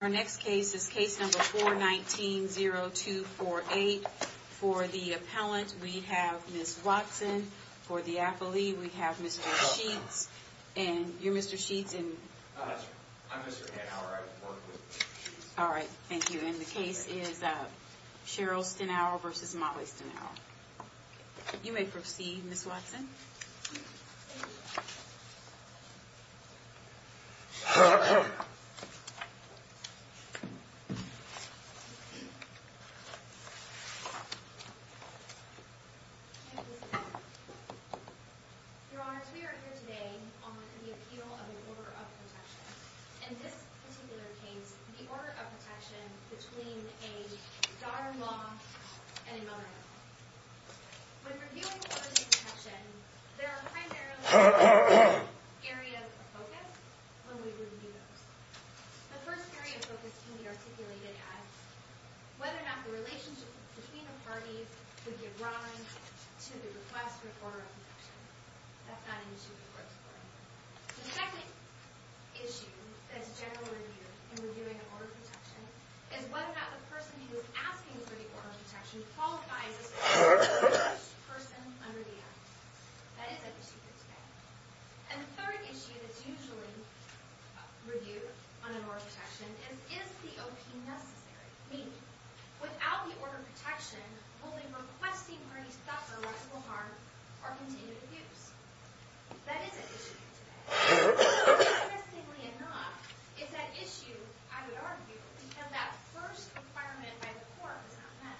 Our next case is case number 419-0248. For the appellant, we have Ms. Watson. For the affilee, we have Mr. Sheets. And you're Mr. Sheets, and I'm Mr. Hanauer. I work with Ms. Sheets. All right, thank you. And the case is Cheryl Stinauer v. Motley Stinauer. Thank you, Mr. Hanauer. Your Honors, we are here today on the appeal of an order of protection. In this particular case, the order of protection between a daughter-in-law and a mother-in-law. When reviewing orders of protection, there are primarily two areas of focus when we review those. The first area of focus can be articulated as whether or not the relationship between the parties would give rise to the request for order of protection. That's not an issue we're exploring. The second issue that's generally reviewed in reviewing an order of protection is whether or not the person who is asking for the order of protection qualifies as the first person under the act. That is an issue here today. And the third issue that's usually reviewed on an order of protection is, is the OP necessary? Meaning, without the order of protection, will the requesting party suffer liable harm or continue to abuse? That is an issue here today. Interestingly enough, is that issue, I would argue, become that first requirement by the court was not met.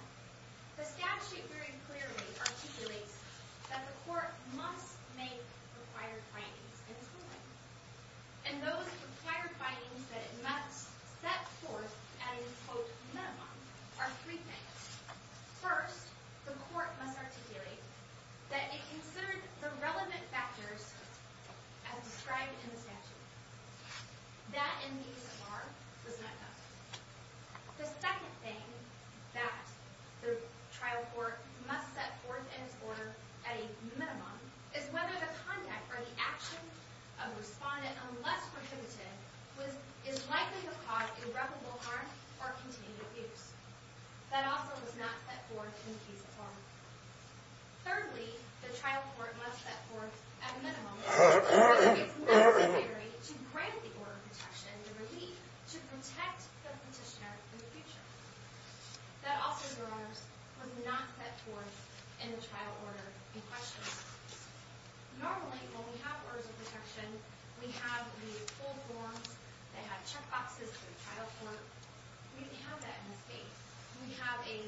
The statute very clearly articulates that the court must make required findings in its ruling. And those required findings that it must set forth as a quote, minimum, are three things. First, the court must articulate that it considered the relevant factors as described in the statute. That, in the case of harm, was not done. The second thing that the trial court must set forth in its order, at a minimum, is whether the conduct or the action of the respondent, unless prohibited, is likely to cause irreparable harm or continued abuse. That also was not set forth in the case of harm. Thirdly, the trial court must set forth, at a minimum, whether it's necessary to grant the order of protection, to protect the petitioner in the future. That also, Your Honors, was not set forth in the trial order in question. Normally, when we have orders of protection, we have the full forms, they have check boxes for the trial court. We didn't have that in this case. We have a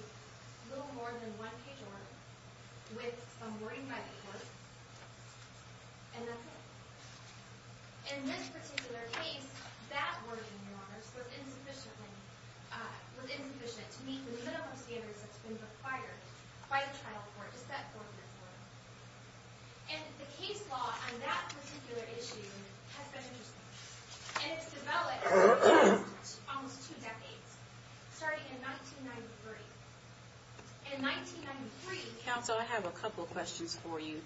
little more than one page order, with some wording by the court, and that's it. In this particular case, that wording, Your Honors, was insufficient to meet the minimum standards that's been required by the trial court to set forth in its order. And the case law on that particular issue has been interesting. And it's developed over the past almost two decades, starting in 1993. In 1993... Counsel, I have a couple questions for you.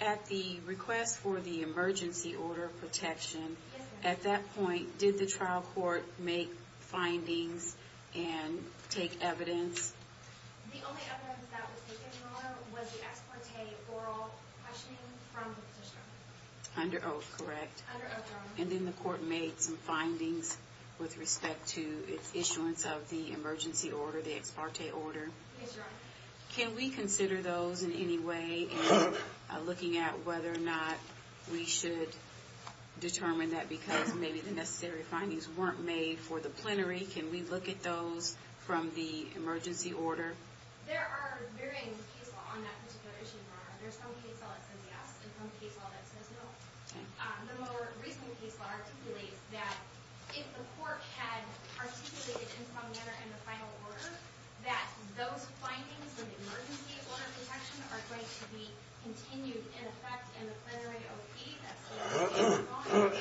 At the request for the emergency order of protection, at that point, did the trial court make findings and take evidence? The only evidence that was taken, Your Honor, was the ex parte oral questioning from the petitioner. Under oath, correct. Under oath, Your Honor. And then the court made some findings with respect to its issuance of the emergency order, the ex parte order. Yes, Your Honor. Can we consider those in any way in looking at whether or not we should determine that because maybe the necessary findings weren't made for the plenary? Can we look at those from the emergency order? There are varying case law on that particular issue, Your Honor. There's some case law that says yes, and some case law that says no. Okay. The more recent case law articulates that if the court had articulated in some manner in the final order, that those findings in the emergency order of protection are going to be continued in effect in the plenary O.P. That's the way it's defined.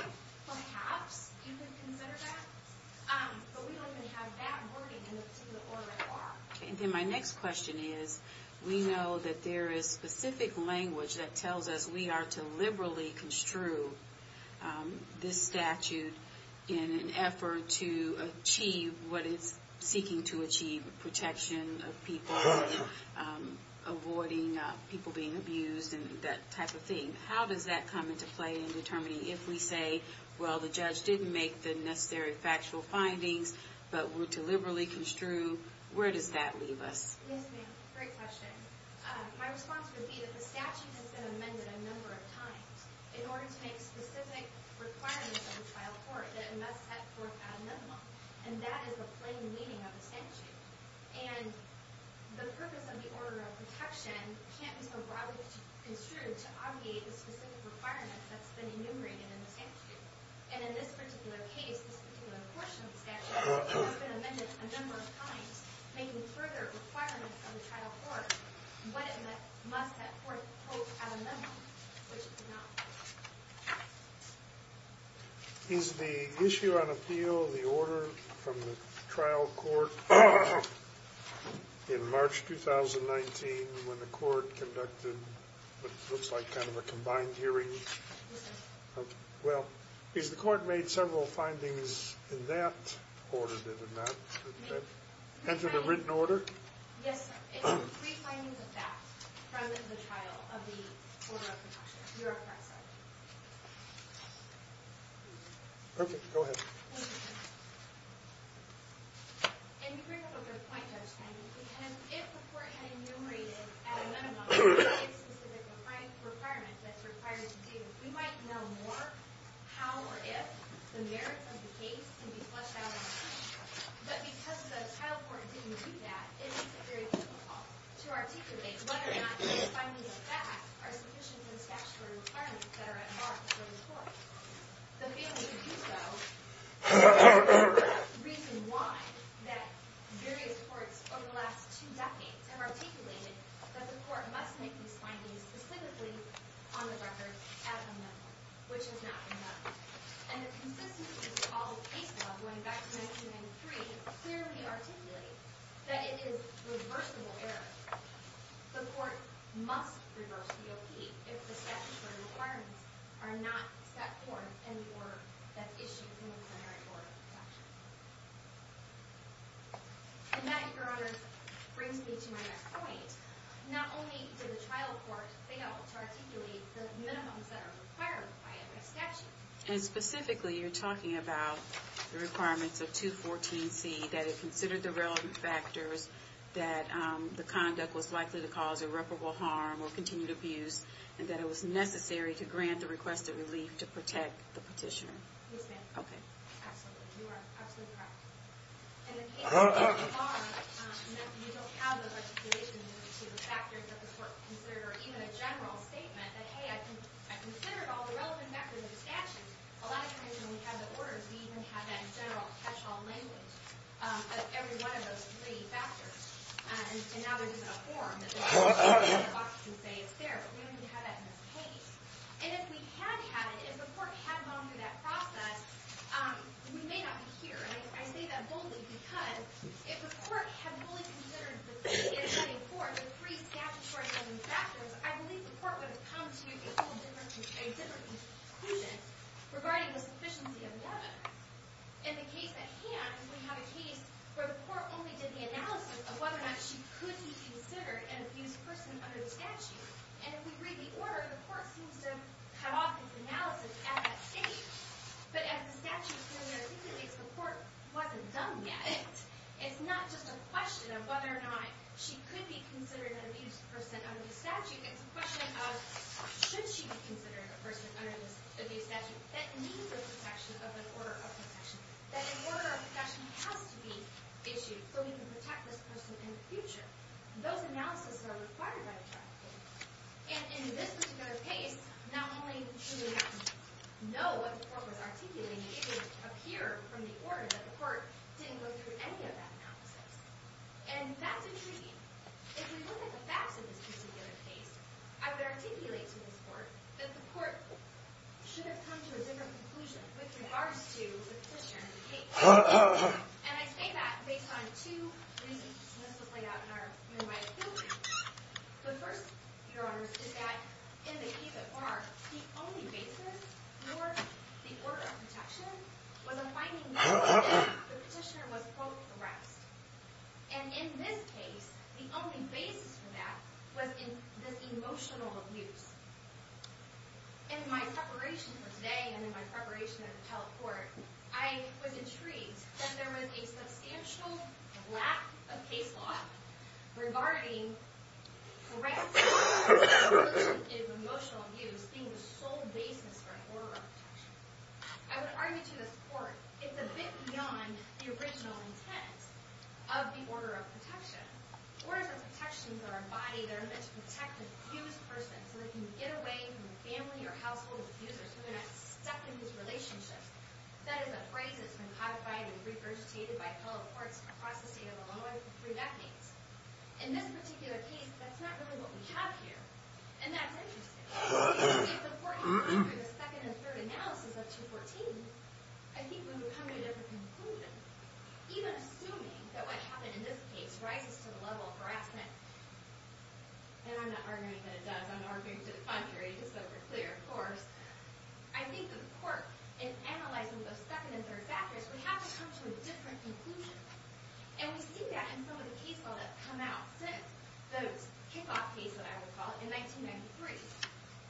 Perhaps you could consider that. But we don't even have that wording in the particular order of law. Okay. And then my next question is we know that there is specific language that tells us we are to liberally construe this statute in an effort to achieve what it's seeking to achieve, protection of people, avoiding people being abused, and that type of thing. How does that come into play in determining if we say, well, the judge didn't make the necessary factual findings, but we're to liberally construe, where does that leave us? Yes, ma'am. Great question. My response would be that the statute has been amended a number of times in order to make specific requirements of the trial court that it must set forth ad minimumum, and that is the plain meaning of the statute. And the purpose of the order of protection can't be so broadly construed to obviate the specific requirements that's been enumerated in the statute. And in this particular case, this particular portion of the statute, it has been amended a number of times making further requirements of the trial court what it must set forth, quote, ad minimumum, which it did not. Is the issue on appeal of the order from the trial court in March 2019, when the court conducted what looks like kind of a combined hearing? Yes, sir. Well, has the court made several findings in that order? Did it not enter the written order? Yes, sir. It's three findings of that from the trial of the order of protection. You're correct, sir. Perfect. Go ahead. Thank you, sir. And you bring up a good point, Judge Kennedy, because if the court had enumerated, ad minimumum, the specific requirement that's required to do, we might know more how or if the merits of the case can be flushed out of the statute. But because the trial court didn't do that, it makes it very difficult to articulate whether or not these findings of that are sufficient in statute or requirements that are at mark for the court. The failing to do so is part of the reason why that various courts over the last two decades have articulated that the court must make these findings specifically on the record ad minimumum, which has not been done. And the consistency of the Apollo case law, going back to 1993, clearly articulates that it is reversible error. The court must reverse the OP if the statutory requirements are not set forth in the order that's issued in the merit order of protection. And that, Your Honors, brings me to my next point. Not only did the trial court fail to articulate the minimums that are required by a statute, and specifically you're talking about the requirements of 214C, that it considered the relevant factors that the conduct was likely to cause irreparable harm or continued abuse, and that it was necessary to grant the request of relief to protect the petitioner. Yes, ma'am. Okay. Absolutely. You are absolutely correct. And in case of harm, you don't have the articulation of the factors that the court considered, or even a general statement that, hey, I considered all the relevant factors of the statute. A lot of times when we have the orders, we even have that in general catch-all language of every one of those three factors. And now there's even a form that the statute can say it's there, but we don't even have that in this case. And if we had had it, if the court had gone through that process, we may not be here. And I say that boldly because if the court had fully considered the three statutory relevant factors, I believe the court would have come to a different conclusion regarding the sufficiency of the evidence. In the case of harm, we have a case where the court only did the analysis of whether or not she could be considered an abused person under the statute. And if we read the order, the court seems to have cut off its analysis at that stage. But as the statute clearly articulates, the court wasn't done yet. It's not just a question of whether or not she could be considered an abused person under the statute. It's a question of should she be considered a person under this abuse statute that needs the protection of an order of profession, that an order of profession has to be issued so we can protect this person in the future. Those analysis are required by the trafficking. And in this particular case, not only did we not know what the court was articulating, it would appear from the order that the court didn't go through any of that analysis. And that's intriguing. If we look at the facts of this particular case, I would articulate to this court that the court should have come to a different conclusion with regards to the petitioner in the case. And I say that based on two reasons. And this was laid out in our unified opinion. The first, Your Honors, is that in the case of harm, the only basis for the order of protection was a finding that the petitioner was, quote, harassed. And in this case, the only basis for that was in this emotional abuse. In my preparation for today and in my preparation at the telecourt, I was intrigued that there was a substantial lack of case law regarding harassment in emotional abuse being the sole basis for an order of protection. I would argue to this court, it's a bit beyond the original intent of the order of protection. Orders of protection are embodied in order to protect the accused person so they can get away from the family or household of the accuser so they're not stuck in these relationships. That is a phrase that's been codified and regurgitated by telecourts across the state of Illinois for three decades. In this particular case, that's not really what we have here. And that's interesting. If the court had gone through the second and third analysis of 214, I think we would come to a different conclusion. Even assuming that what happened in this case rises to the level of harassment, and I'm not arguing that it does. I'm arguing to the contrary, just so we're clear, of course. I think that the court, in analyzing those second and third factors, would have to come to a different conclusion. And we see that in some of the case law that have come out since those kickoff cases, I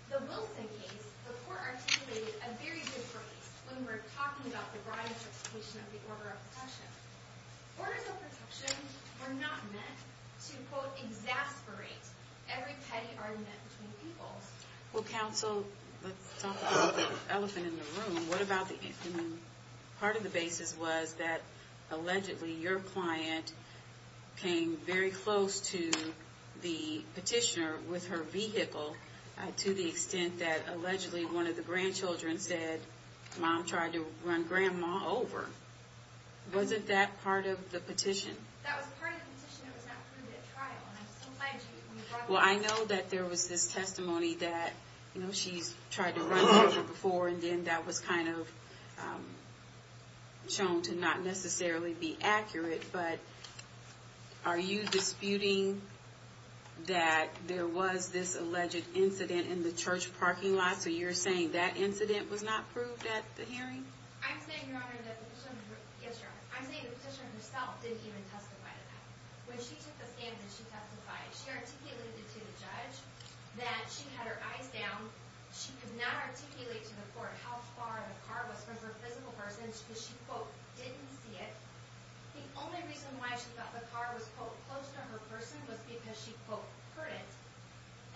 The Wilson case, the court articulated a very different case when we're talking about the bribe substitution of the order of protection. Orders of protection are not meant to, quote, exasperate every petty argument between peoples. Well, counsel, let's talk about the elephant in the room. What about the infant? Part of the basis was that, allegedly, your client came very close to the petitioner with her vehicle to the extent that, allegedly, one of the grandchildren said, Mom tried to run Grandma over. Wasn't that part of the petition? That was part of the petition. It was not proved at trial. And I'm still glad you brought that up. Well, I know that there was this testimony that, you know, she's tried to run her before, and then that was kind of shown to not necessarily be accurate. But are you disputing that there was this alleged incident in the church parking lot? So you're saying that incident was not proved at the hearing? I'm saying, Your Honor, that the petitioner herself didn't even testify to that. When she took the stand and she testified, she articulated to the judge that she had her eyes down. She could not articulate to the court how far the car was from her physical person because she, quote, didn't see it. The only reason why she thought the car was, quote, close to her person was because she, quote, heard it.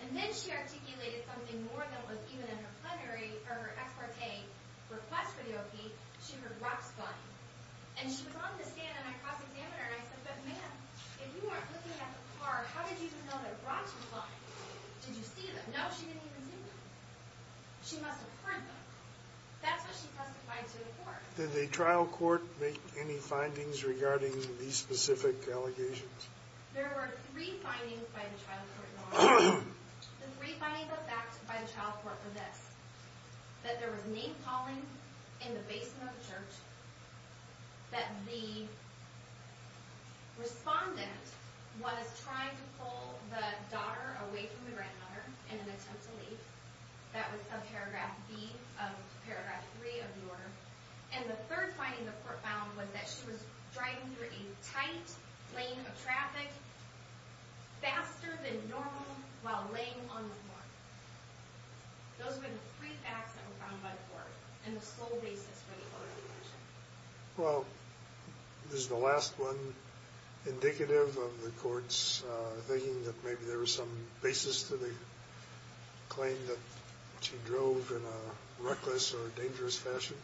And then she articulated something more than was even in her plenary or her ex parte request for the O.P. She heard rocks flying. And she was on the stand and I crossed-examined her and I said, But ma'am, if you weren't looking at the car, how did you even know that rocks were flying? Did you see them? No, she didn't even see them. She must have heard them. That's what she testified to the court. Did the trial court make any findings regarding these specific allegations? There were three findings by the trial court, Your Honor. The three findings that were backed by the trial court were this, that there was name calling in the basement of the church, that the respondent was trying to pull the daughter away from the grandmother in an attempt to leave. That was subparagraph B of paragraph 3 of the order. And the third finding the court found was that she was driving through a tight lane of traffic faster than normal while laying on the floor. Those were the three facts that were found by the court and the sole basis for the O.R. decision. Well, this is the last one indicative of the court's thinking that maybe there was some claim that she drove in a reckless or dangerous fashion?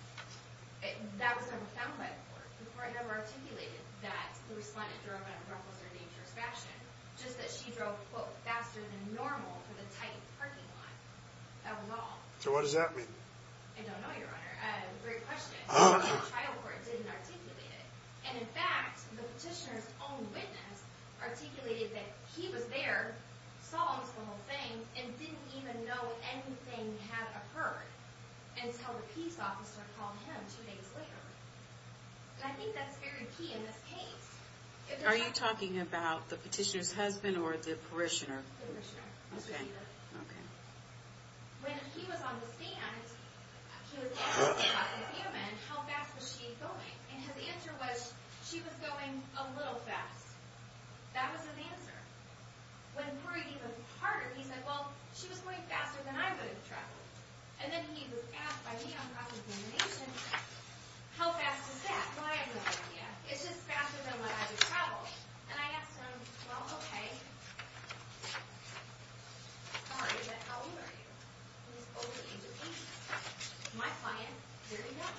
That was never found by the court. The court never articulated that the respondent drove in a reckless or dangerous fashion. Just that she drove, quote, faster than normal through the tight parking lot. That was all. So what does that mean? I don't know, Your Honor. Great question. The trial court didn't articulate it. And in fact, the petitioner's own witness articulated that he was there, saw almost the whole thing, and didn't even know anything had occurred until the peace officer called him two days later. And I think that's very key in this case. Are you talking about the petitioner's husband or the parishioner? The parishioner. Okay. Okay. When he was on the stand, he was on the stand by the vehement, how fast was she going? And his answer was, she was going a little fast. That was his answer. When he heard it even harder, he said, well, she was going faster than I would have traveled. And then he was asked by me on cross-examination, how fast is that? Well, I had no idea. It's just faster than what I would travel. And I asked him, well, okay. Sorry, but how old are you? And he said, over the age of 18. My client, very young.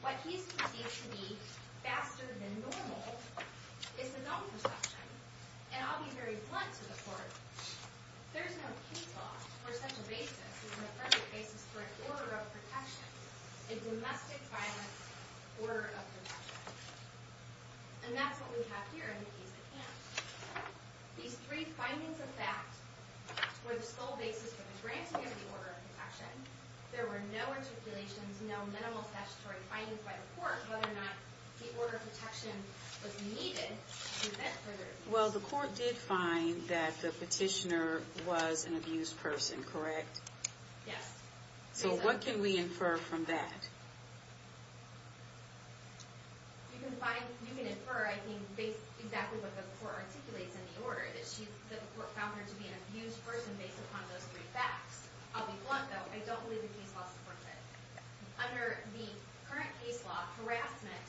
What he sees to be faster than normal is his own perception. And I'll be very blunt to the court. There's no case law where such a basis is an affirmative basis for an order of protection, a domestic violence order of protection. And that's what we have here in the case at hand. These three findings of fact were the sole basis for the granting of the order of protection. There were no articulations, no minimal statutory findings by the court whether or not the order of protection was needed to prevent further abuse. Well, the court did find that the petitioner was an abused person, correct? Yes. So what can we infer from that? You can infer, I think, exactly what the court articulates in the order, that the court found her to be an abused person based upon those three facts. I'll be blunt, though. I don't believe the case law supports it. Under the current case law, harassment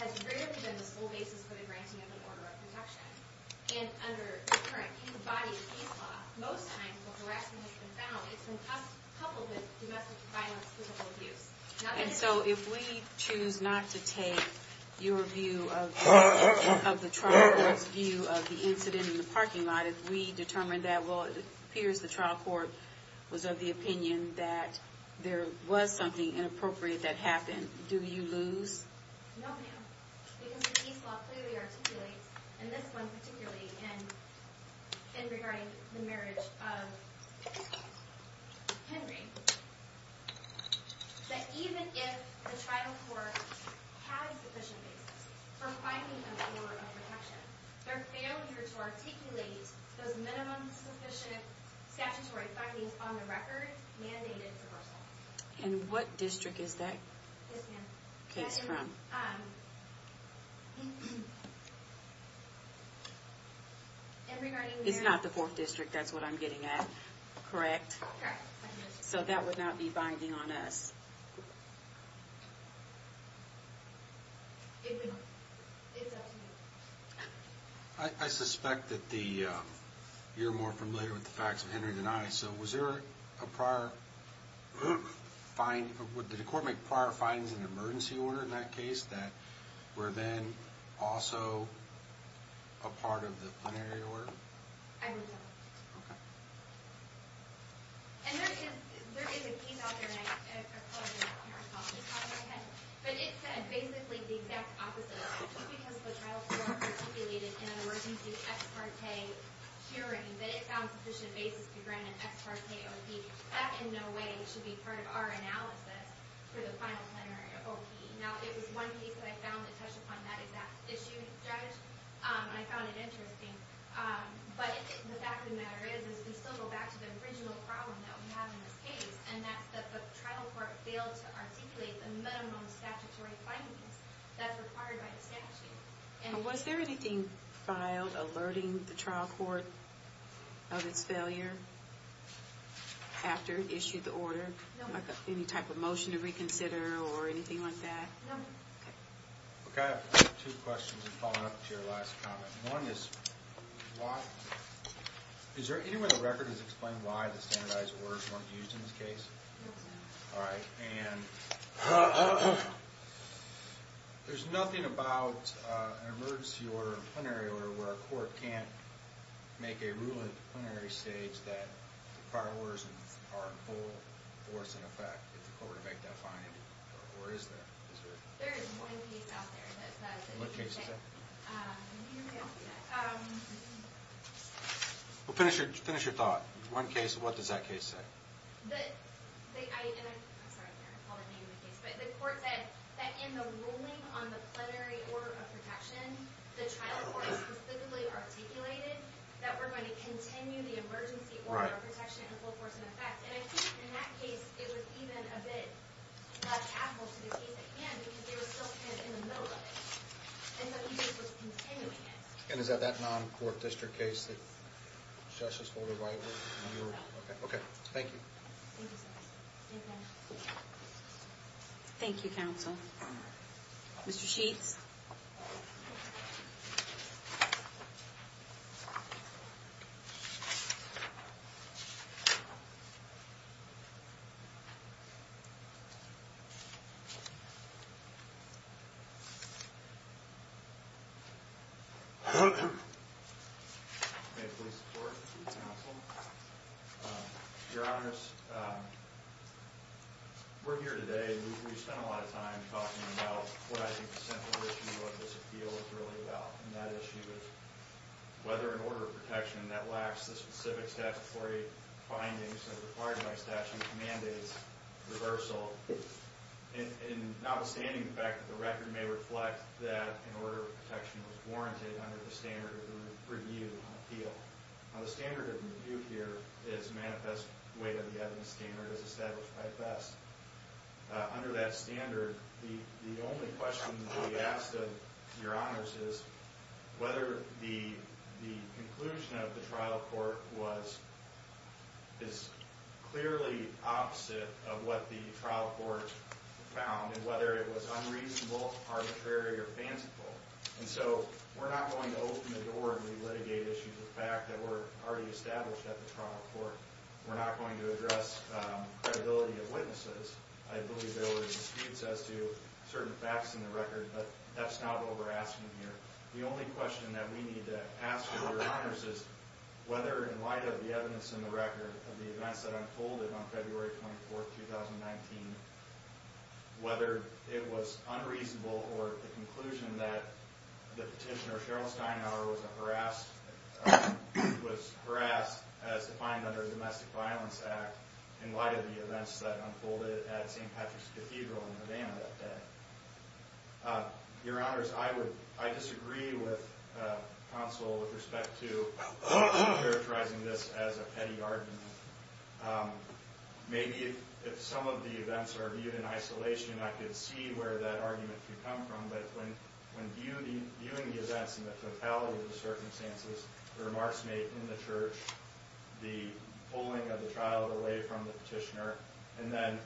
has rarely been the sole basis for the granting of an order of protection. And under the current body of case law, most times when harassment has been found, it's been coupled with domestic violence, physical abuse. And so if we choose not to take your view of the trial court's view of the incident in the parking lot, if we determine that, well, it appears the trial court was of the opinion that there was something inappropriate that happened, do you lose? No, ma'am. Because the case law clearly articulates, and this one particularly in regarding the marriage of Henry, that even if the trial court has sufficient basis for finding an order of protection, their failure to articulate those minimum sufficient statutory findings on the record mandated reversal. And what district is that case from? It's not the 4th District, that's what I'm getting at. Correct? Correct. So that would not be binding on us. It's up to you. I suspect that you're more familiar with the facts of Henry's denial, so would the court make prior findings in the emergency order in that case that were then also a part of the plenary order? I would not. Okay. And there is a case out there, and I apologize if I'm interrupting, but it said basically the exact opposite, just because the trial court articulated in an emergency ex parte hearing that it found sufficient basis to grant an ex parte O.P., that in no way should be part of our analysis for the final plenary O.P. Now, it was one case that I found that touched upon that exact issue, Judge, and I found it interesting. But the fact of the matter is we still go back to the original problem that we have in this case, and that's that the trial court failed to articulate the minimum statutory findings that's required by the statute. Was there anything filed alerting the trial court of its failure after it issued the order? No. Any type of motion to reconsider or anything like that? No. Okay. I have two questions in following up to your last comment. One is, is there anywhere in the record that's explained why the standardized orders weren't used in this case? No, sir. All right. And there's nothing about an emergency order, a plenary order, where a court can't make a rule at the plenary stage that the prior orders are in full force and effect if the court were to make that finding? Or is there? There is one case out there that says that. What case is that? I don't see that. Well, finish your thought. One case, what does that case say? I'm sorry, I can't recall the name of the case. But the court said that in the ruling on the plenary order of protection, the trial court specifically articulated that we're going to continue the emergency order of protection in full force and effect. And I think in that case it was even a bit much hassle to the case at hand because they were still kind of in the middle of it. And is that that non-court district case that Justice Holder White was in? No. Okay, thank you. Thank you, sir. Thank you, counsel. Mr. Sheets? May I please support the case, counsel? Your Honor, we're here today, we've spent a lot of time talking about what I think the central issue of this appeal is really about. And that issue is whether an order of protection that lacks the specific statutory findings that are required by statute mandates reversal. And notwithstanding the fact that the record may reflect that an order of protection was warranted under the standard of review on appeal. Now, the standard of review here is manifest the way that the evidence standard is established by the best. Under that standard, the only question that we ask of your honors is whether the conclusion of the trial court is clearly opposite of what the trial court found. And whether it was unreasonable, arbitrary, or fanciful. And so we're not going to open the door and re-litigate issues with the fact that were already established at the trial court. We're not going to address credibility of witnesses. I believe there were disputes as to certain facts in the record, but that's not what we're asking here. The only question that we need to ask of your honors is whether in light of the evidence in the record of the events that unfolded on February 24th, 2019. Whether it was unreasonable or the conclusion that the petitioner, Cheryl Steinauer, was harassed as defined under the Domestic Violence Act. In light of the events that unfolded at St. Patrick's Cathedral in Havana that day. Your honors, I disagree with counsel with respect to characterizing this as a petty argument. Maybe if some of the events are viewed in isolation, I could see where that argument could come from. But when viewing the events in the totality of the circumstances, the remarks made in the church, the pulling of the child away from the petitioner. And then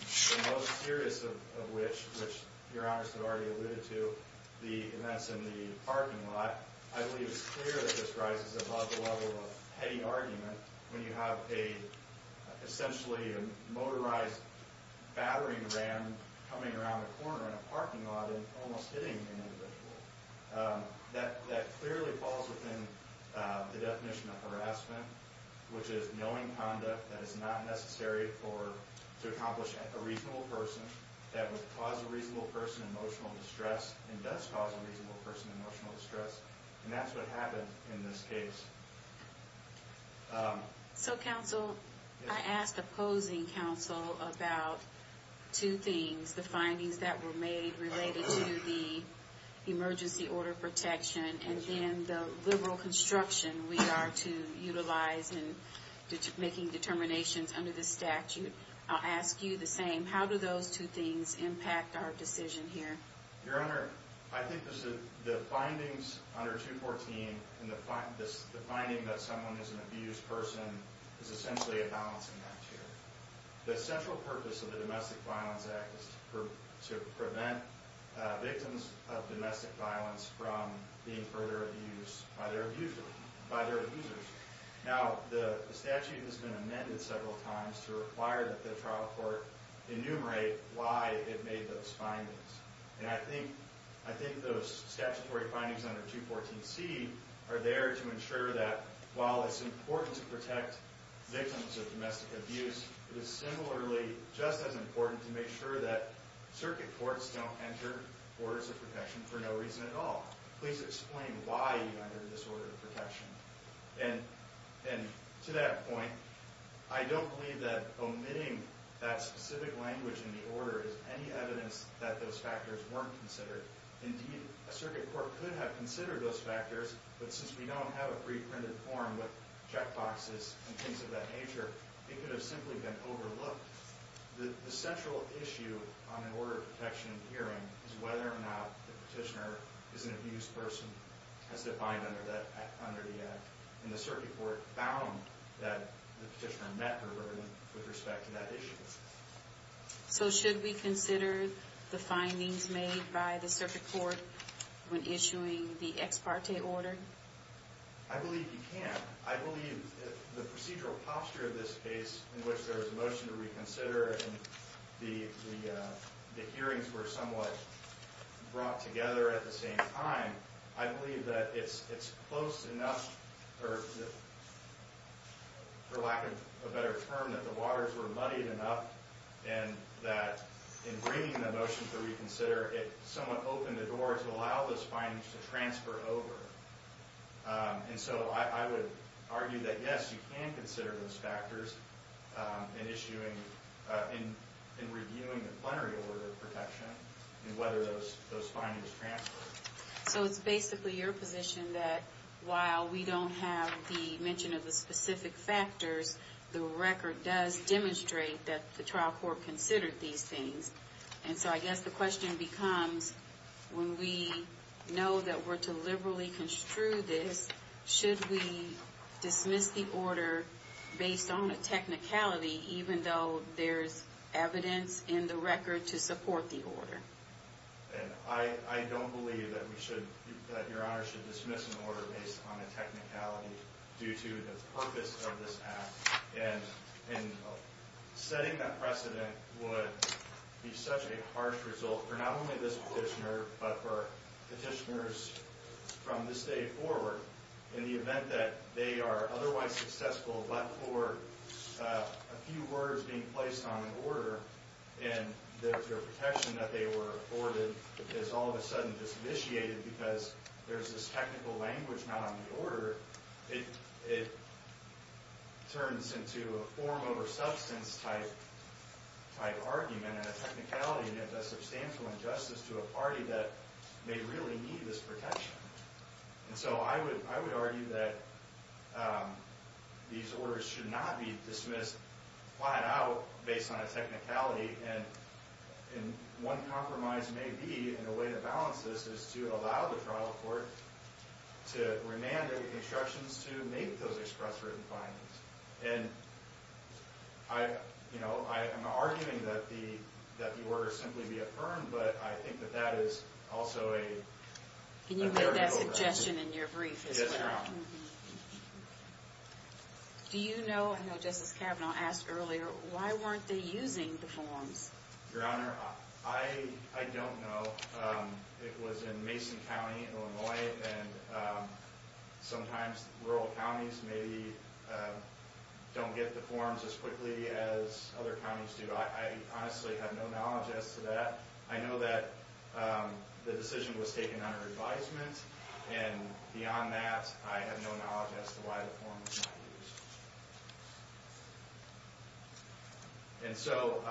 the most serious of which, which your honors have already alluded to, the events in the parking lot. I believe it's clear that this rises above the level of petty argument when you have essentially a motorized battering ram coming around the corner in a parking lot and almost hitting an individual. That clearly falls within the definition of harassment, which is knowing conduct that is not necessary to accomplish a reasonable person. That would cause a reasonable person emotional distress and thus cause a reasonable person emotional distress. And that's what happened in this case. So counsel, I asked opposing counsel about two things. The findings that were made related to the emergency order protection and then the liberal construction we are to utilize in making determinations under this statute. I'll ask you the same. How do those two things impact our decision here? Your honor, I think the findings under 214 and the finding that someone is an abused person is essentially a balancing act here. The central purpose of the Domestic Violence Act is to prevent victims of domestic violence from being further abused by their abusers. Now, the statute has been amended several times to require that the trial court enumerate why it made those findings. And I think those statutory findings under 214C are there to ensure that while it's important to protect victims of domestic abuse, it is similarly just as important to make sure that circuit courts don't enter orders of protection for no reason at all. Please explain why you entered this order of protection. And to that point, I don't believe that omitting that specific language in the order is any evidence that those factors weren't considered. Indeed, a circuit court could have considered those factors, but since we don't have a pre-printed form with checkboxes and things of that nature, it could have simply been overlooked. The central issue on an order of protection in the hearing is whether or not the petitioner is an abused person as defined under the act. And the circuit court found that the petitioner met her limit with respect to that issue. So should we consider the findings made by the circuit court when issuing the ex parte order? I believe you can. I believe the procedural posture of this case in which there was a motion to reconsider and the hearings were somewhat brought together at the same time, I believe that it's close enough, for lack of a better term, that the waters were muddied enough and that in bringing the motion to reconsider, it somewhat opened the door to allow those findings to transfer over. And so I would argue that yes, you can consider those factors in reviewing the plenary order of protection and whether those findings transfer. So it's basically your position that while we don't have the mention of the specific factors, the record does demonstrate that the trial court considered these things. And so I guess the question becomes, when we know that we're to liberally construe this, should we dismiss the order based on a technicality even though there's evidence in the record to support the order? I don't believe that Your Honor should dismiss an order based on a technicality due to the purpose of this act. And setting that precedent would be such a harsh result for not only this petitioner but for petitioners from this day forward in the event that they are otherwise successful but for a few words being placed on an order and their protection that they were afforded is all of a sudden disinitiated because there's this technical language not on the order. It turns into a form over substance type argument and a technicality and a substantial injustice to a party that may really need this protection. And so I would argue that these orders should not be dismissed flat out based on a technicality. And one compromise may be, and a way to balance this, is to allow the trial court to remand the instructions to make those express written findings. And I'm arguing that the order simply be affirmed, but I think that that is also a... Can you make that suggestion in your brief as well? Yes, Your Honor. Do you know, I know Justice Kavanaugh asked earlier, why weren't they using the forms? Your Honor, I don't know. It was in Mason County, Illinois, and sometimes rural counties maybe don't get the forms as quickly as other counties do. I honestly have no knowledge as to that. I know that the decision was taken under advisement. And beyond that, I have no knowledge as to why the form was not used. And so,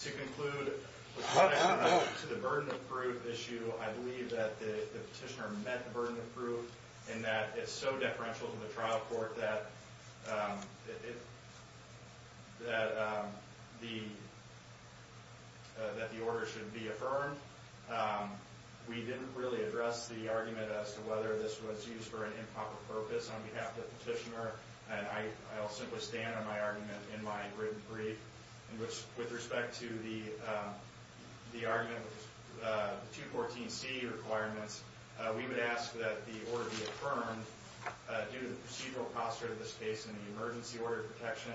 to conclude, to the burden of proof issue, I believe that the petitioner met the burden of proof in that it's so deferential to the trial court that the order should be affirmed. We didn't really address the argument as to whether this was used for an improper purpose on behalf of the petitioner. And I'll simply stand on my argument in my written brief. In which, with respect to the argument, the 214C requirements, we would ask that the order be affirmed due to the procedural posture of this case in the emergency order of protection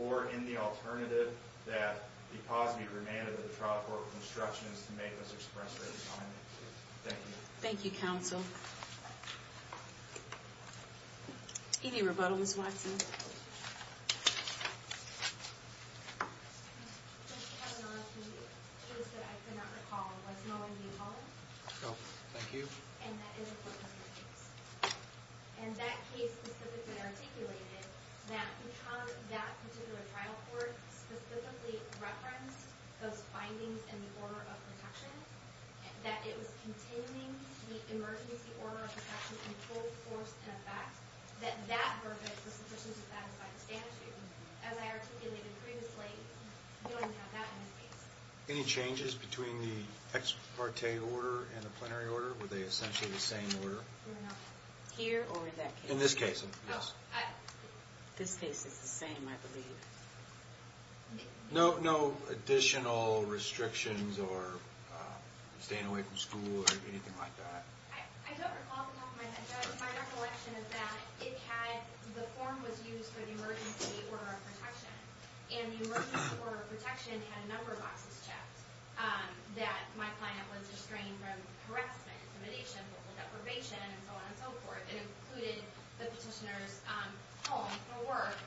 or in the alternative that the positive remand of the trial court with instruction is to make this express their assignment. Thank you. Thank you, counsel. Any rebuttal, Ms. Watson? Just to have an honest review. It is that I could not recall, was Mullen being called? No. Thank you. And that is a court procedure case. And that case specifically articulated that because that particular trial court specifically referenced those findings in the order of protection, that it was containing the emergency order of protection in full force and effect, that that verdict was sufficient to satisfy the statute. As I articulated previously, you don't even have that in this case. Any changes between the ex parte order and the plenary order? Were they essentially the same order? No. Here or in that case? In this case, yes. This case is the same, I believe. No additional restrictions or staying away from school or anything like that? I don't recall off the top of my head. My recollection is that the form was used for the emergency order of protection, and the emergency order of protection had a number of boxes checked that my client was restrained from harassment, intimidation, vocal deprivation, and so on and so forth. It included the petitioner's home for work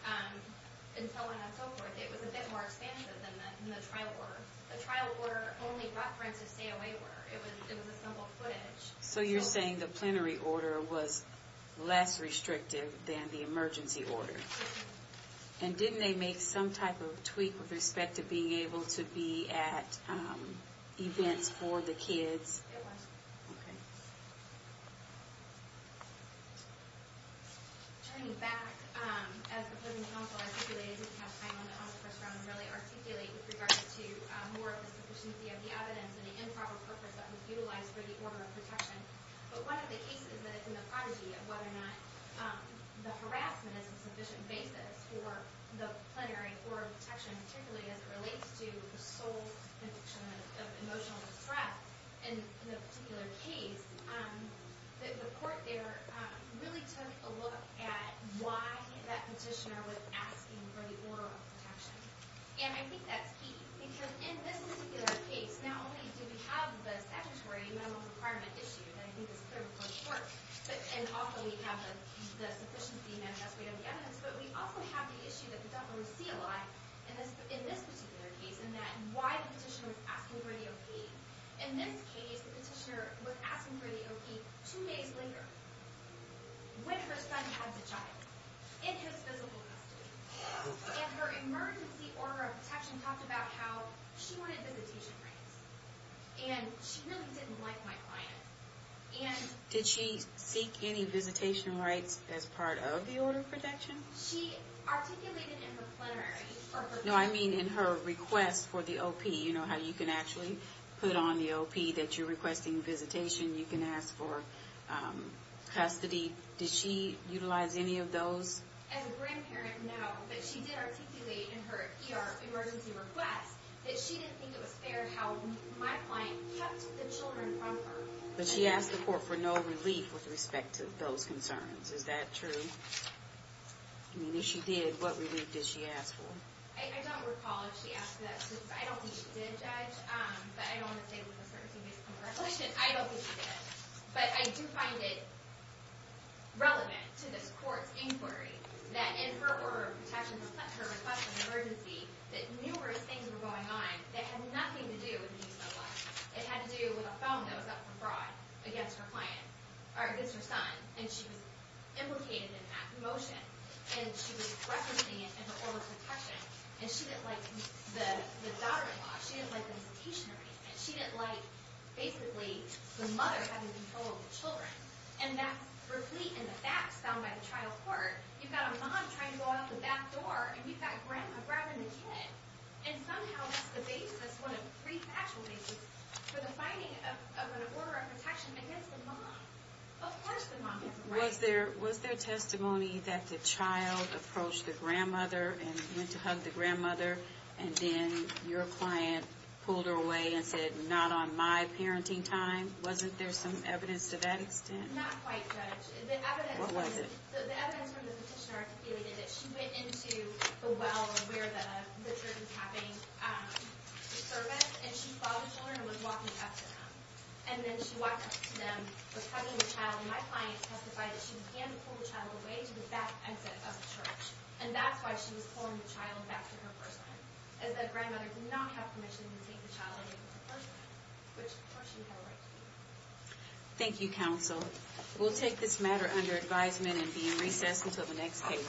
and so on and so forth. It was a bit more expansive than the trial order. The trial order only referenced a stay away order. It was a simple footage. So you're saying the plenary order was less restrictive than the emergency order? Mm-hmm. And didn't they make some type of tweak with respect to being able to be at events for the kids? It was. Okay. Turning back, as the Plenary Council articulated, I didn't have time on the conference round to really articulate with regards to more of the sufficiency of the evidence and the improper purpose that was utilized for the order of protection. But one of the cases that is in the prodigy of whether or not the harassment is a sufficient basis for the plenary order of protection, particularly as it relates to the sole definition of emotional distress, in the particular case, the court there really took a look at why that petitioner was asking for the order of protection. And I think that's key, because in this particular case, not only do we have the statutory mental requirement issue that I think is critical to the court, and also we have the sufficiency manifest way of the evidence, but we also have the issue that we definitely see a lot in this particular case, in that why the petitioner was asking for the OK. In this case, the petitioner was asking for the OK two days later, when her son has a child, in his physical custody. And her emergency order of protection talked about how she wanted visitation rights. And she really didn't like my client. And... Did she seek any visitation rights as part of the order of protection? She articulated in her plenary... No, I mean in her request for the OP. You know how you can actually put on the OP that you're requesting visitation. You can ask for custody. Did she utilize any of those? As a grandparent, no, but she did articulate in her ER emergency request that she didn't think it was fair how my client kept the children from her. But she asked the court for no relief with respect to those concerns. Is that true? I mean, if she did, what relief did she ask for? I don't recall if she asked that. I don't think she did, Judge. But I don't want to say with a certainty based on recollection. I don't think she did. But I do find it relevant to this court's inquiry that in her order of protection, her request for an emergency, that numerous things were going on that had nothing to do with the use of life. It had to do with a phone that was up for fraud against her son. And she was implicated in an act of motion. And she was referencing it in her order of protection. And she didn't like the daughter-in-law. She didn't like the citation arraignment. She didn't like, basically, the mother having control of the children. And that's replete in the facts found by the trial court. You've got a mom trying to go out the back door, and you've got grandma grabbing the kid. And somehow that's the basis, one of three factual bases, for the finding of an order of protection against a mom. Of course the mom has a right. Was there testimony that the child approached the grandmother and went to hug the grandmother, and then your client pulled her away and said, not on my parenting time? Wasn't there some evidence to that extent? Not quite, Judge. What was it? The evidence from the petitioner articulated that she went into the well where Richard was having his service, and she followed the children and was walking up to them. And then she walked up to them, was hugging the child. And my client testified that she began to pull the child away to the back exit of the church. And that's why she was pulling the child back to her person, is that grandmother did not have permission to take the child away from her person, which, of course, she had a right to. Thank you, counsel. We'll take this matter under advisement and be in recess until the next case.